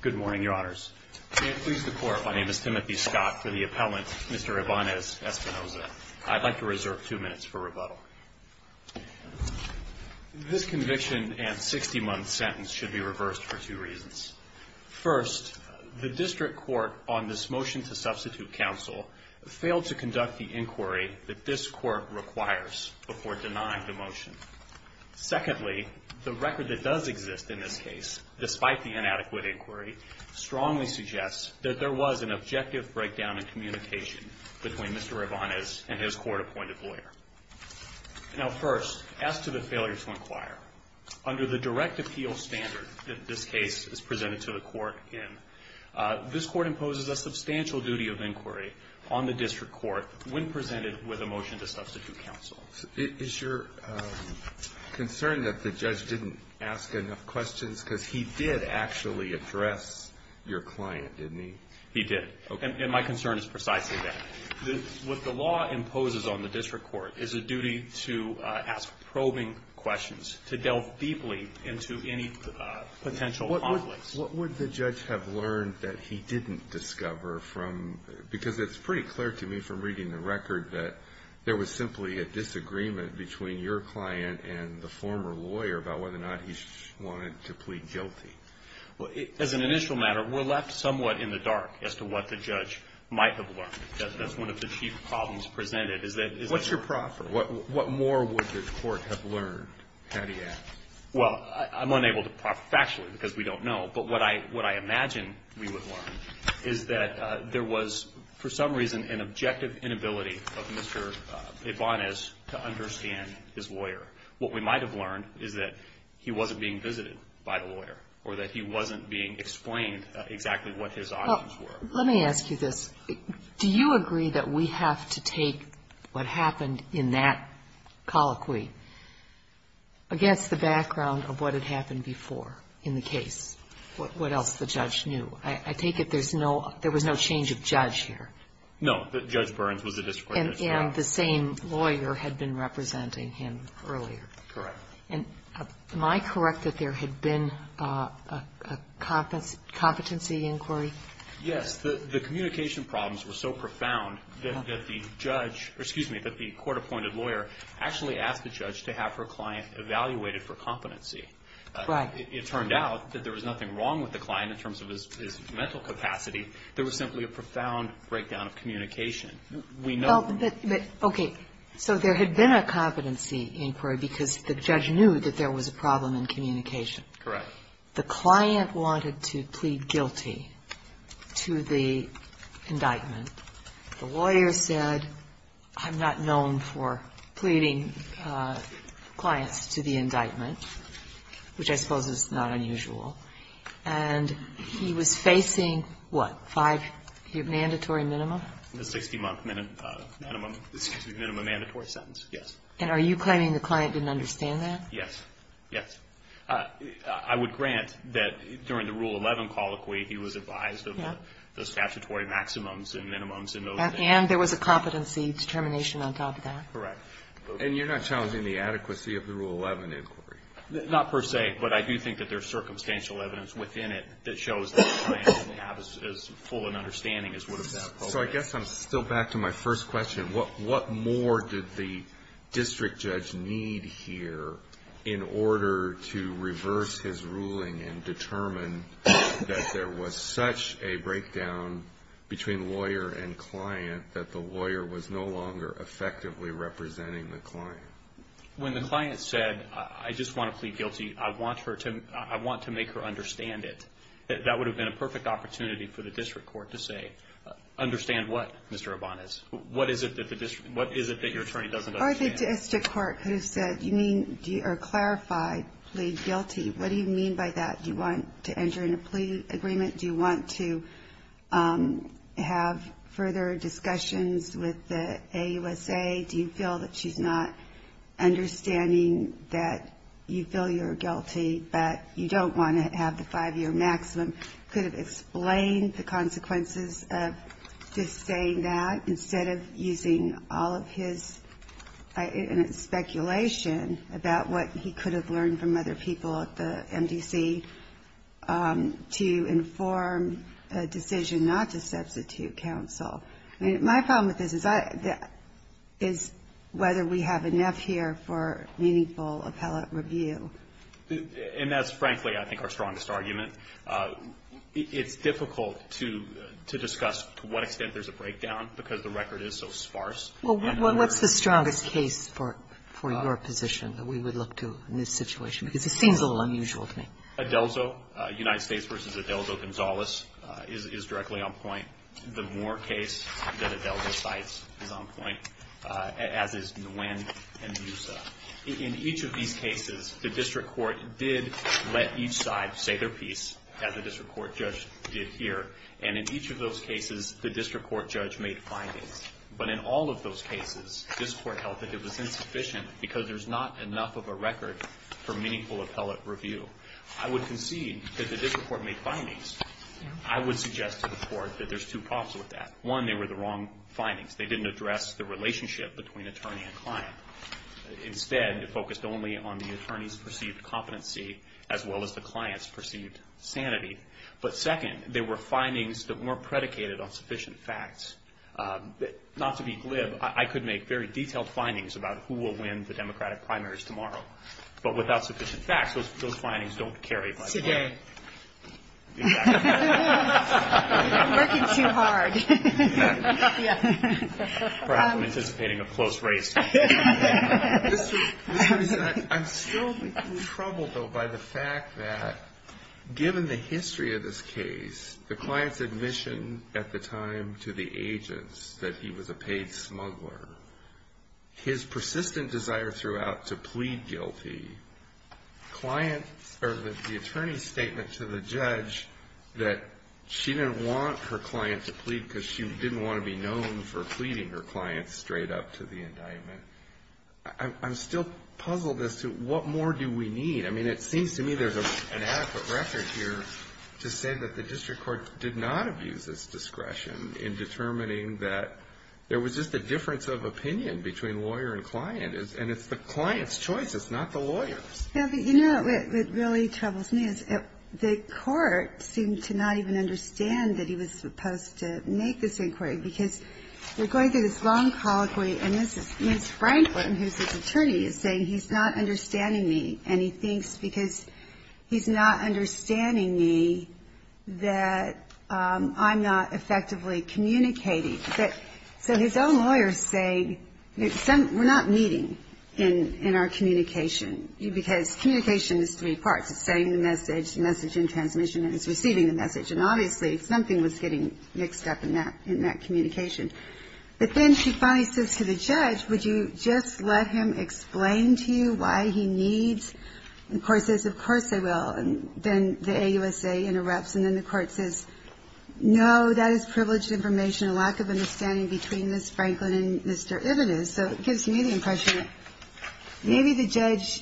Good morning, Your Honors. May it please the Court, my name is Timothy Scott for the appellant, Mr. Ibanez-Espinosa. I'd like to reserve two minutes for rebuttal. This conviction and 60-month sentence should be reversed for two reasons. First, the district court on this motion to substitute counsel failed to conduct the inquiry that this court requires before denying the motion. Secondly, the record that does exist in this case, despite the inadequate inquiry, strongly suggests that there was an objective breakdown in communication between Mr. Ibanez and his court-appointed lawyer. Now first, as to the failure to inquire, under the direct appeal standard that this case is presented to the court in, this court imposes a substantial duty of inquiry on the district court when presented with a motion to substitute counsel. Alito, is your concern that the judge didn't ask enough questions? Because he did actually address your client, didn't he? He did. Okay. And my concern is precisely that. What the law imposes on the district court is a duty to ask probing questions, to delve deeply into any potential conflicts. What would the judge have learned that he didn't discover from, because it's pretty clear to me from reading the record that there was simply a disagreement between your client and the former lawyer about whether or not he wanted to plead guilty. Well, as an initial matter, we're left somewhat in the dark as to what the judge might have learned. That's one of the chief problems presented. What's your proffer? What more would the court have learned, had he asked? Well, I'm unable to proffer factually, because we don't know. But what I imagine we would learn is that there was, for some reason, an objective inability of Mr. Ibanez to understand his lawyer. What we might have learned is that he wasn't being visited by the lawyer or that he wasn't being explained exactly what his options were. Let me ask you this. Do you agree that we have to take what happened in that colloquy against the background of what had happened before in the case, what else the judge knew? I take it there's no – there was no change of judge here? No. Judge Burns was the district court judge. And the same lawyer had been representing him earlier. Correct. And am I correct that there had been a competency inquiry? Yes. The communication problems were so profound that the judge – or, excuse me, that the court-appointed lawyer actually asked the judge to have her client evaluated for competency. Right. It turned out that there was nothing wrong with the client in terms of his mental capacity. There was simply a profound breakdown of communication. We know – But, okay. So there had been a competency inquiry because the judge knew that there was a problem in communication. Correct. The client wanted to plead guilty to the indictment. The lawyer said, I'm not known for pleading clients to the indictment, which I suppose is not unusual. And he was facing, what, five – the mandatory minimum? The 60-month minimum – excuse me, minimum mandatory sentence, yes. And are you claiming the client didn't understand that? Yes. Yes. I would grant that during the Rule 11 colloquy, he was advised of the statutory maximums and minimums in those areas. And there was a competency determination on top of that. Correct. And you're not challenging the adequacy of the Rule 11 inquiry? Not per se, but I do think that there's circumstantial evidence within it that shows that the client didn't have as full an understanding as would have been appropriate. So I guess I'm still back to my first question. What more did the district judge need here in order to reverse his ruling and determine that there was such a breakdown between lawyer and client that the lawyer was no longer effectively representing the client? When the client said, I just want to plead guilty, I want to make her understand it, that would have been a perfect opportunity for the district court to say, understand what, Mr. Urbanis? What is it that the district – what is it that your attorney doesn't understand? Or the district court could have said, you mean – or clarified, plead guilty. What do you mean by that? Do you want to enter into a plea agreement? Do you want to have further discussions with the AUSA? Do you feel that she's not understanding that you feel you're guilty, but you don't want to have the five-year maximum? Could have explained the consequences of just saying that instead of using all of his speculation about what he could have learned from other people at the MDC to inform a decision not to substitute counsel. I mean, my problem with this is whether we have enough here for meaningful appellate review. And that's, frankly, I think our strongest argument. It's difficult to discuss to what extent there's a breakdown because the record is so sparse. Well, what's the strongest case for your position that we would look to in this situation? Because it seems a little unusual to me. Adelzo. United States v. Adelzo Gonzales is directly on point. The Moore case that Adelzo cites is on point, as is Nguyen and Musa. In each of these cases, the district court did let each side say their piece, as the district court judge did here. And in each of those cases, the district court judge made findings. But in all of those cases, this court held that it was insufficient because there's not enough of a record for meaningful appellate review. I would concede that the district court made findings. I would suggest to the court that there's two problems with that. One, they were the wrong findings. They didn't address the relationship between attorney and client. Instead, it focused only on the attorney's perceived competency as well as the client's perceived sanity. But second, they were findings that weren't predicated on sufficient facts. Not to be glib, I could make very detailed findings about who will win the Democratic primaries tomorrow. I'm working too hard. Perhaps I'm anticipating a close race. I'm still in trouble, though, by the fact that given the history of this case, the client's admission at the time to the agents that he was a paid smuggler, his persistent desire throughout to plead guilty, the attorney's statement to the judge that she didn't want her client to plead because she didn't want to be known for pleading her client straight up to the indictment. I'm still puzzled as to what more do we need. I mean, it seems to me there's an adequate record here to say that the district court did not abuse its discretion in determining that there was just a difference of opinion between lawyer and client, and it's the client's choice, it's not the lawyer's. Yeah, but you know what really troubles me is the court seemed to not even understand that he was supposed to make this inquiry, because we're going through this long colloquy, and Ms. Franklin, who's his attorney, is saying he's not understanding me, and he thinks because he's not understanding me that I'm not effectively communicating. So his own lawyers say we're not meeting in our communication, because communication is three parts. It's sending the message, the message in transmission, and it's receiving the message, and obviously something was getting mixed up in that communication. But then she finally says to the judge, would you just let him explain to you why he needs, and the court says, of course I will, and then the AUSA interrupts, and then the court says, no, that is privileged information, a lack of understanding between Ms. Franklin and Mr. Ibbitt, so it gives me the impression that maybe the judge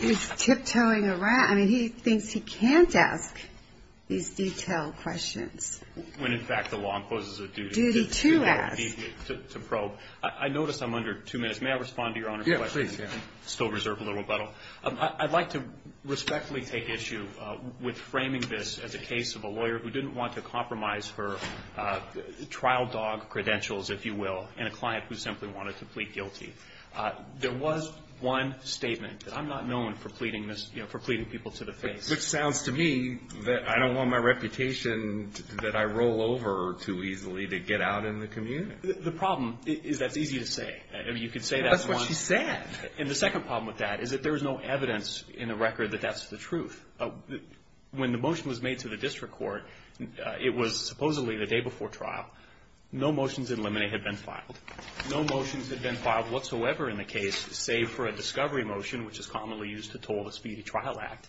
is tiptoeing around. I mean, he thinks he can't ask these detailed questions. When, in fact, the law imposes a duty. Duty to ask. To probe. So I notice I'm under two minutes. May I respond to your Honor's question? Yeah, please. I still reserve a little rebuttal. I'd like to respectfully take issue with framing this as a case of a lawyer who didn't want to compromise her trial dog credentials, if you will, and a client who simply wanted to plead guilty. There was one statement that I'm not known for pleading people to the face. Which sounds to me that I don't want my reputation that I roll over too easily to get out in the community. The problem is that's easy to say. I mean, you could say that once. That's what she said. And the second problem with that is that there is no evidence in the record that that's the truth. When the motion was made to the district court, it was supposedly the day before trial. No motions in limine had been filed. No motions had been filed whatsoever in the case, save for a discovery motion, which is commonly used to toll the speedy trial act.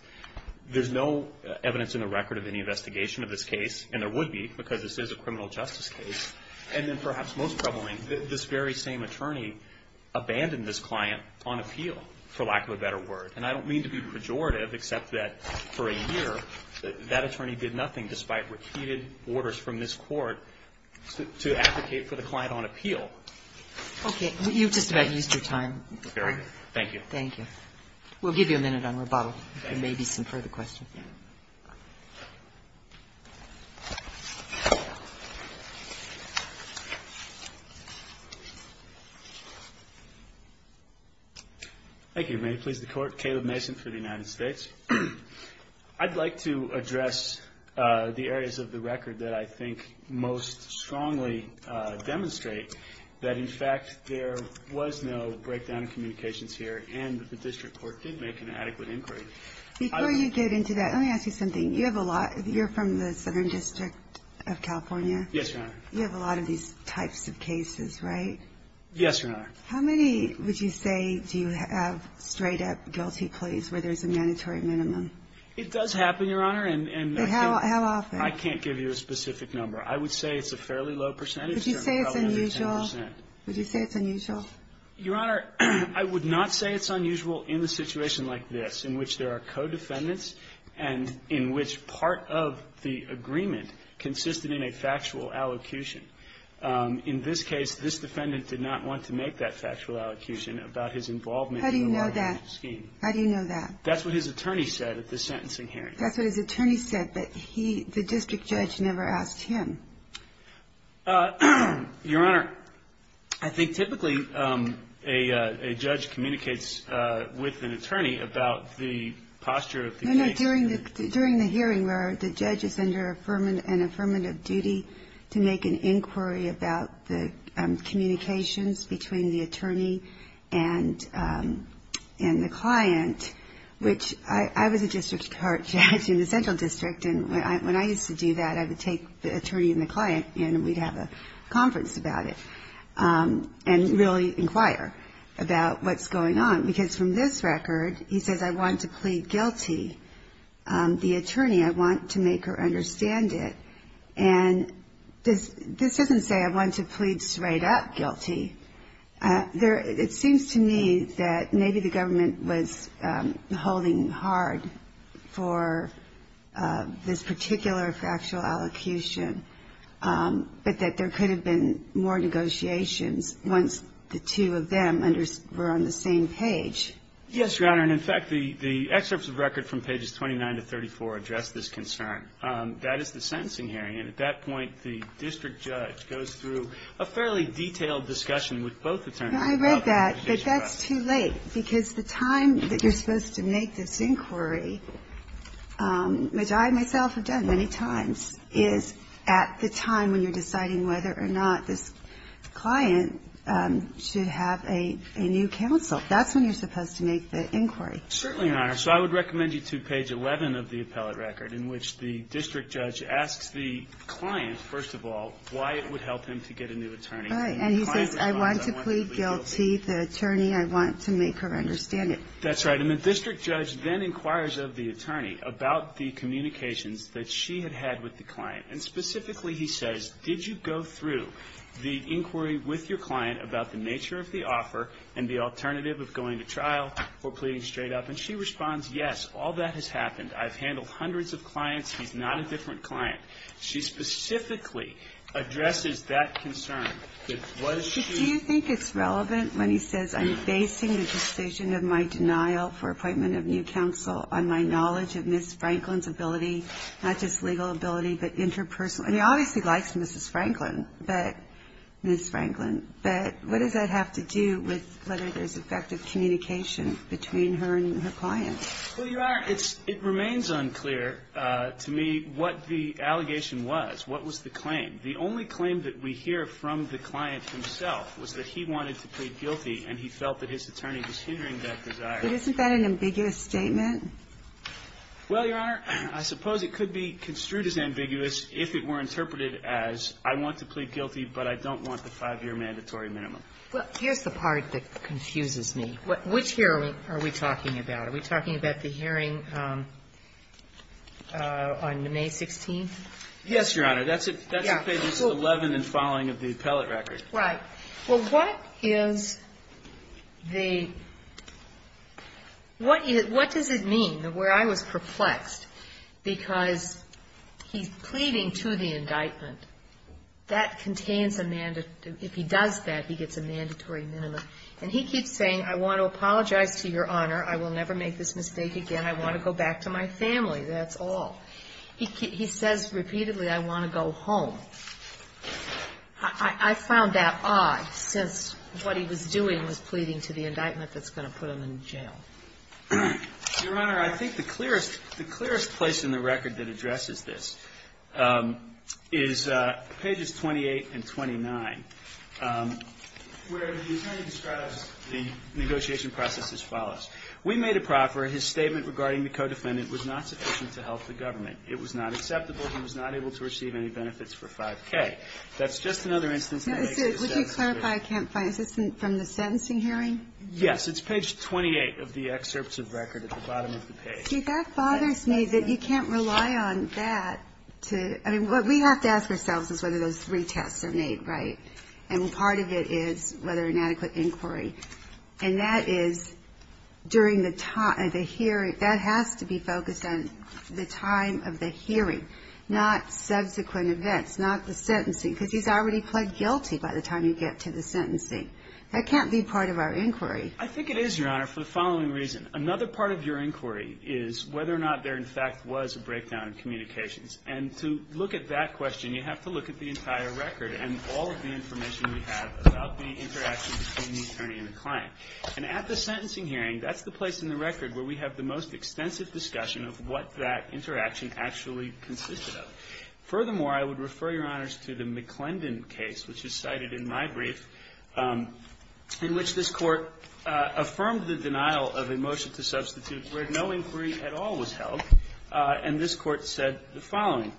There's no evidence in the record of any investigation of this case, and there would be, because this is a criminal justice case. And then perhaps most troubling, this very same attorney abandoned this client on appeal, for lack of a better word. And I don't mean to be pejorative, except that for a year, that attorney did nothing, despite repeated orders from this court, to advocate for the client on appeal. Okay. You've just about used your time. Very good. Thank you. Thank you. We'll give you a minute on rebuttal if there may be some further questions. Thank you. Thank you. May it please the Court. Caleb Mason for the United States. I'd like to address the areas of the record that I think most strongly demonstrate that, in fact, there was no breakdown in communications here, and that the district court did make an adequate inquiry. Before you get into that, let me ask you something. You have a lot. You're from the Southern District of California. Yes, Your Honor. You have a lot of these types of cases, right? Yes, Your Honor. How many, would you say, do you have straight up guilty pleas where there's a mandatory minimum? It does happen, Your Honor. How often? I can't give you a specific number. I would say it's a fairly low percentage. Would you say it's unusual? Would you say it's unusual? Your Honor, I would not say it's unusual in a situation like this, in which there are co-defendants and in which part of the agreement consisted in a factual allocution. In this case, this defendant did not want to make that factual allocution about his involvement in the lottery scheme. How do you know that? How do you know that? That's what his attorney said at the sentencing hearing. That's what his attorney said, but he, the district judge, never asked him. Your Honor, I think typically a judge communicates with an attorney about the posture of the case. No, no. During the hearing where the judge is under an affirmative duty to make an inquiry about the communications between the attorney and the client, which I was a district court judge in the Central District. And when I used to do that, I would take the attorney and the client, and we'd have a conference about it and really inquire about what's going on. Because from this record, he says, I want to plead guilty. The attorney, I want to make her understand it. And this doesn't say I want to plead straight up guilty. It seems to me that maybe the government was holding hard for this particular factual allocution, but that there could have been more negotiations once the two of them were on the same page. Yes, Your Honor. And, in fact, the excerpts of record from pages 29 to 34 address this concern. That is the sentencing hearing. And at that point, the district judge goes through a fairly detailed discussion with both attorneys. I read that, but that's too late. Because the time that you're supposed to make this inquiry, which I myself have done many times, is at the time when you're deciding whether or not this client should have a new counsel. That's when you're supposed to make the inquiry. Certainly, Your Honor. So I would recommend you to page 11 of the appellate record, in which the district judge asks the client, first of all, why it would help him to get a new attorney. Right. And he says, I want to plead guilty. The attorney, I want to make her understand it. That's right. And the district judge then inquires of the attorney about the communications that she had had with the client. And specifically, he says, did you go through the inquiry with your client about the nature of the offer and the alternative of going to trial or pleading straight up? And she responds, yes, all that has happened. I've handled hundreds of clients. He's not a different client. She specifically addresses that concern that was she ---- But do you think it's relevant when he says, I'm basing the decision of my denial for appointment of new counsel on my knowledge of Ms. Franklin's ability, not just legal ability, but interpersonal. I mean, he obviously likes Mrs. Franklin, but Ms. Franklin. But what does that have to do with whether there's effective communication between her and her client? Well, Your Honor, it remains unclear to me what the allegation was, what was the claim. The only claim that we hear from the client himself was that he wanted to plead guilty and he felt that his attorney was hindering that desire. But isn't that an ambiguous statement? Well, Your Honor, I suppose it could be construed as ambiguous if it were interpreted as, I want to plead guilty, but I don't want the five-year mandatory minimum. Well, here's the part that confuses me. Which hearing are we talking about? Are we talking about the hearing on May 16th? Yes, Your Honor. That's at pages 11 and following of the appellate record. Right. Well, what is the ñ what does it mean, where I was perplexed, because he's pleading to the indictment. That contains a ñ if he does that, he gets a mandatory minimum. And he keeps saying, I want to apologize to Your Honor. I will never make this mistake again. I want to go back to my family. That's all. He says repeatedly, I want to go home. I found that odd, since what he was doing was pleading to the indictment that's going to put him in jail. Your Honor, I think the clearest place in the record that addresses this is pages 28 and 29, where the attorney describes the negotiation process as follows. We made a proffer. His statement regarding the co-defendant was not sufficient to help the government. It was not acceptable. He was not able to receive any benefits for 5K. That's just another instance. Would you clarify, I can't find it. Is this from the sentencing hearing? Yes. It's page 28 of the excerpt of record at the bottom of the page. See, that bothers me that you can't rely on that to ñ I mean, what we have to ask ourselves is whether those three tests are made right. And part of it is whether an adequate inquiry. And that is during the time of the hearing. That has to be focused on the time of the hearing, not subsequent events, not the sentencing. Because he's already pled guilty by the time you get to the sentencing. That can't be part of our inquiry. I think it is, Your Honor, for the following reason. Another part of your inquiry is whether or not there, in fact, was a breakdown in communications. And to look at that question, you have to look at the entire record and all of the information we have about the interaction between the attorney and the client. And at the sentencing hearing, that's the place in the record where we have the most extensive discussion of what that interaction actually consisted of. Furthermore, I would refer Your Honors to the McClendon case, which is cited in my brief, in which this Court affirmed the denial of a motion to substitute where no inquiry at all was held. And this Court said the following.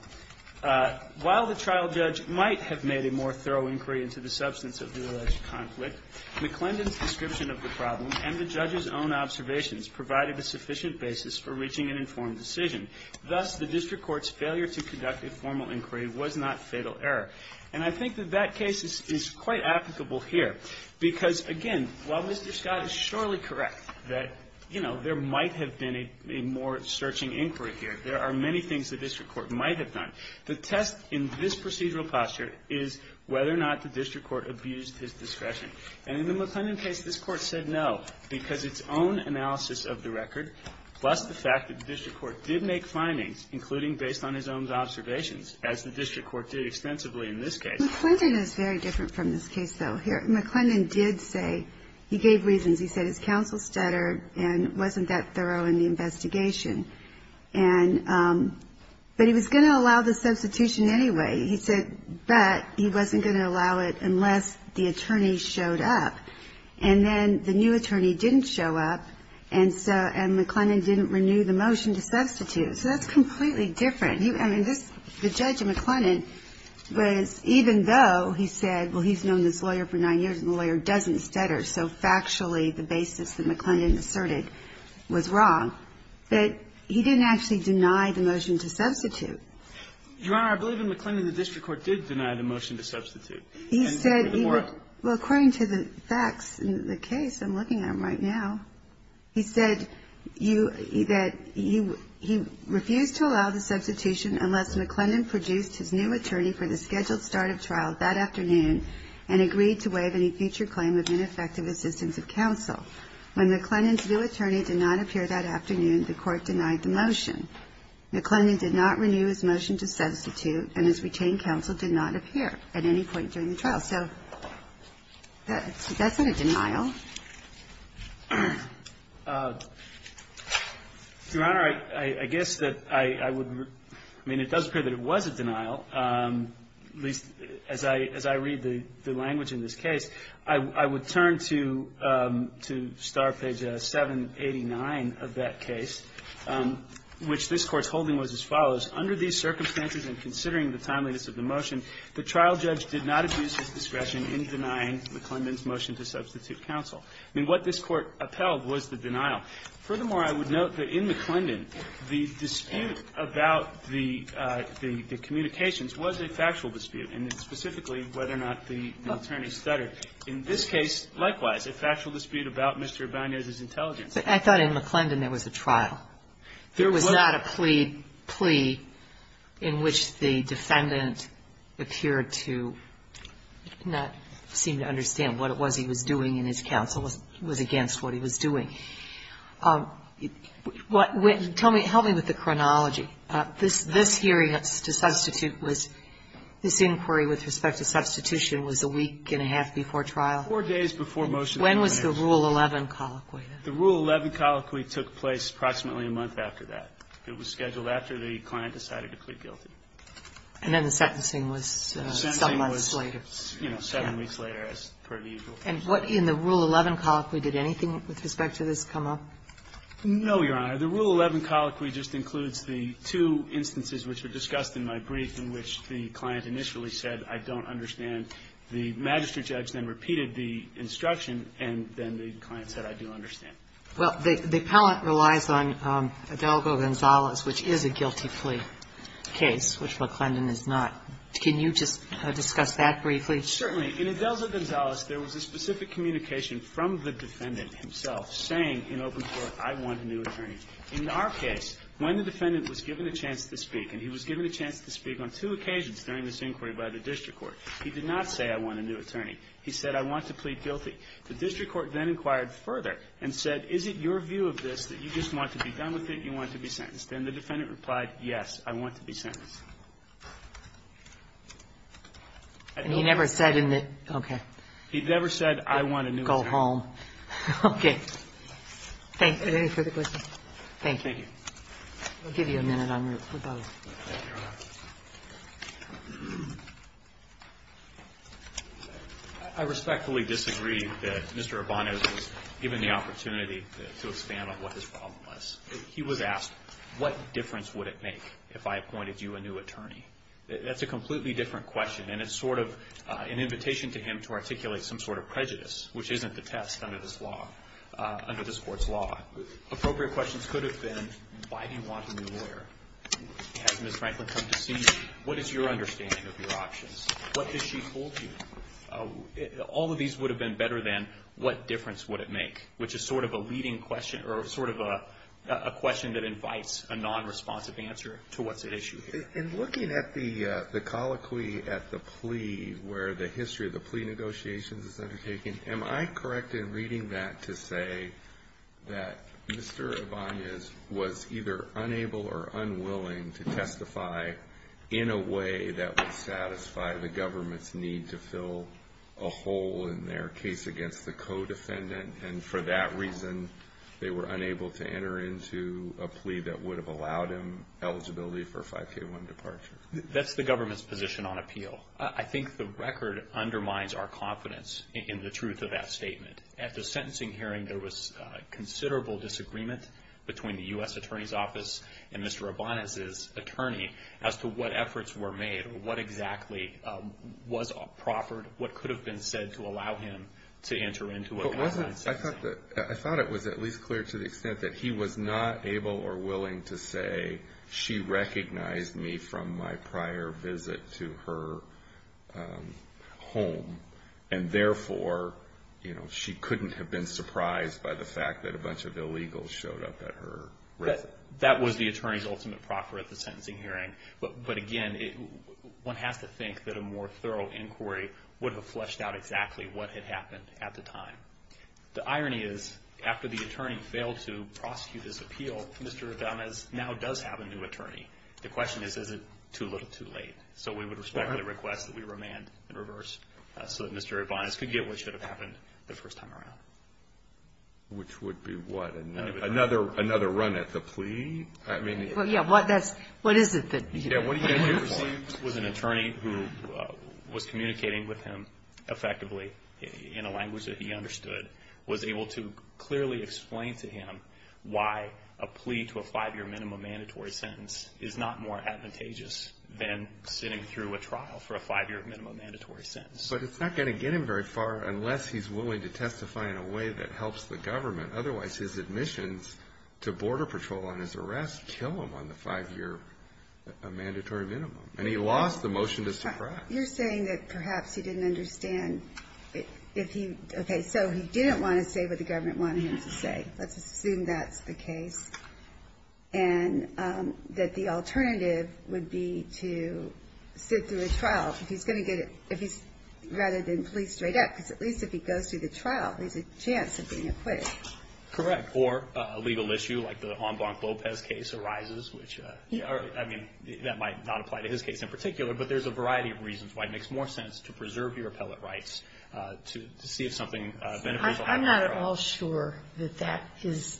While the trial judge might have made a more thorough inquiry into the substance of the alleged conflict, McClendon's description of the problem and the judge's own observations provided a sufficient basis for reaching an informed decision. Thus, the district court's failure to conduct a formal inquiry was not fatal error. And I think that that case is quite applicable here. Because, again, while Mr. Scott is surely correct that, you know, there might have been a more searching inquiry here, there are many things the district court might have done. The test in this procedural posture is whether or not the district court abused his discretion. And in the McClendon case, this Court said no, because its own analysis of the record, plus the fact that the district court did make findings, including based on his own observations, as the district court did extensively in this case. McClendon is very different from this case, though, here. McClendon did say he gave reasons. He said his counsel stuttered and wasn't that thorough in the investigation. But he was going to allow the substitution anyway. He said that he wasn't going to allow it unless the attorney showed up. And then the new attorney didn't show up, and McClendon didn't renew the motion to substitute. So that's completely different. I mean, the judge in McClendon was, even though he said, well, he's known this lawyer for nine years and the lawyer doesn't stutter, so factually the basis that McClendon asserted was wrong. But he didn't actually deny the motion to substitute. Your Honor, I believe in McClendon the district court did deny the motion to substitute. He said he would. Well, according to the facts in the case, I'm looking at them right now. He said that he refused to allow the substitution unless McClendon produced his new attorney for the scheduled start of trial that afternoon and agreed to waive any future claim of ineffective assistance of counsel. When McClendon's new attorney did not appear that afternoon, the Court denied the motion. McClendon did not renew his motion to substitute, and his retained counsel did not appear at any point during the trial. So that's not a denial. Your Honor, I guess that I would – I mean, it does appear that it was a denial. At least as I read the language in this case, I would turn to star page 789 of that case, which this Court's holding was as follows. Under these circumstances and considering the timeliness of the motion, the trial judge did not abuse his discretion in denying McClendon's motion to substitute counsel. I mean, what this Court upheld was the denial. Now, furthermore, I would note that in McClendon, the dispute about the communications was a factual dispute, and specifically whether or not the attorney stuttered. In this case, likewise, a factual dispute about Mr. Abanez's intelligence. But I thought in McClendon there was a trial. There was not a plea in which the defendant appeared to not seem to understand what it was he was doing and his counsel was against what he was doing. Tell me – help me with the chronology. This hearing to substitute was – this inquiry with respect to substitution was a week and a half before trial? Four days before motion. When was the Rule 11 colloquy? The Rule 11 colloquy took place approximately a month after that. It was scheduled after the client decided to plead guilty. And then the sentencing was some months later. You know, seven weeks later, as per the usual. And what – in the Rule 11 colloquy, did anything with respect to this come up? No, Your Honor. The Rule 11 colloquy just includes the two instances which were discussed in my brief in which the client initially said, I don't understand. The magistrate judge then repeated the instruction, and then the client said, I do understand. Well, the appellant relies on Adelgo-Gonzalez, which is a guilty plea case, which McClendon is not. Can you just discuss that briefly? Certainly. In Adelgo-Gonzalez, there was a specific communication from the defendant himself saying in open court, I want a new attorney. In our case, when the defendant was given a chance to speak, and he was given a chance to speak on two occasions during this inquiry by the district court, he did not say, I want a new attorney. He said, I want to plead guilty. The district court then inquired further and said, is it your view of this that you just want to be done with it, you want to be sentenced? Then the defendant replied, yes, I want to be sentenced. And he never said in the, okay. He never said, I want a new attorney. Go home. Okay. Thank you. Any further questions? Thank you. Thank you. I'll give you a minute en route for both. Thank you, Your Honor. I respectfully disagree that Mr. Urbano was given the opportunity to expand on what his problem was. He was asked, what difference would it make if I appointed you a new attorney? That's a completely different question, and it's sort of an invitation to him to articulate some sort of prejudice, which isn't the test under this law, under this court's law. Appropriate questions could have been, why do you want a new lawyer? Has Ms. Franklin come to see you? What is your understanding of your options? What has she told you? All of these would have been better than, what difference would it make? Which is sort of a leading question, or sort of a question that invites a non-responsive answer to what's at issue here. In looking at the colloquy at the plea, where the history of the plea negotiations is undertaken, am I correct in reading that to say that Mr. Urbano was either unable or unwilling to testify in a way that would satisfy the government's need to fill a hole in their case against the co-defendant, and for that reason, they were unable to enter into a plea that would have allowed him eligibility for a 5K1 departure? That's the government's position on appeal. I think the record undermines our confidence in the truth of that statement. At the sentencing hearing, there was considerable disagreement between the U.S. Attorney's Office and Mr. Urbano's attorney as to what efforts were made, or what exactly was proffered, what could have been said to allow him to enter into a sentencing. I thought it was at least clear to the extent that he was not able or willing to say, she recognized me from my prior visit to her home, and therefore, she couldn't have been surprised by the fact that a bunch of illegals showed up at her residence. That was the attorney's ultimate proffer at the sentencing hearing. But again, one has to think that a more thorough inquiry would have fleshed out exactly what had happened at the time. The irony is, after the attorney failed to prosecute his appeal, Mr. Urbano now does have a new attorney. The question is, is it too little too late? So we would respect the request that we remand in reverse so that Mr. Urbano could get what should have happened the first time around. Which would be what? Another run at the plea? What is it? What he received was an attorney who was communicating with him effectively in a language that he understood, was able to clearly explain to him why a plea to a five-year minimum mandatory sentence is not more advantageous than sitting through a trial for a five-year minimum mandatory sentence. But it's not going to get him very far unless he's willing to testify in a way that helps the government. Otherwise, his admissions to Border Patrol on his arrest kill him on the five-year mandatory minimum. And he lost the motion to suppress. You're saying that perhaps he didn't understand. Okay, so he didn't want to say what the government wanted him to say. Let's assume that's the case. And that the alternative would be to sit through a trial. Rather than plea straight up, because at least if he goes through the trial, there's a chance of being acquitted. Correct. Or a legal issue like the Enblanc-Lopez case arises, which, I mean, that might not apply to his case in particular. But there's a variety of reasons why it makes more sense to preserve your appellate rights to see if something beneficial happens. I'm not at all sure that that is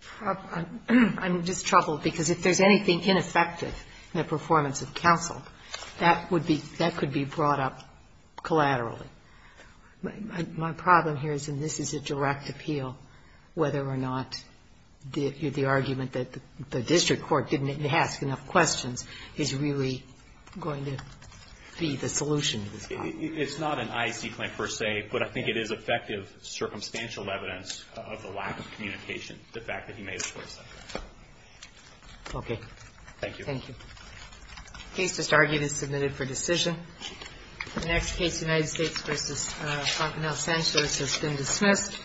proper. I'm just troubled because if there's anything ineffective in the performance of counsel, that would be, that could be brought up collaterally. My problem here is, and this is a direct appeal, whether or not the argument that the district court didn't ask enough questions is really going to be the solution to this problem. It's not an IEC claim per se, but I think it is effective circumstantial evidence of the lack of communication, the fact that he made a choice like that. Okay. Thank you. Thank you. The case just argued is submitted for decision. The next case, United States v. Fontenelle Sanchez, has been dismissed.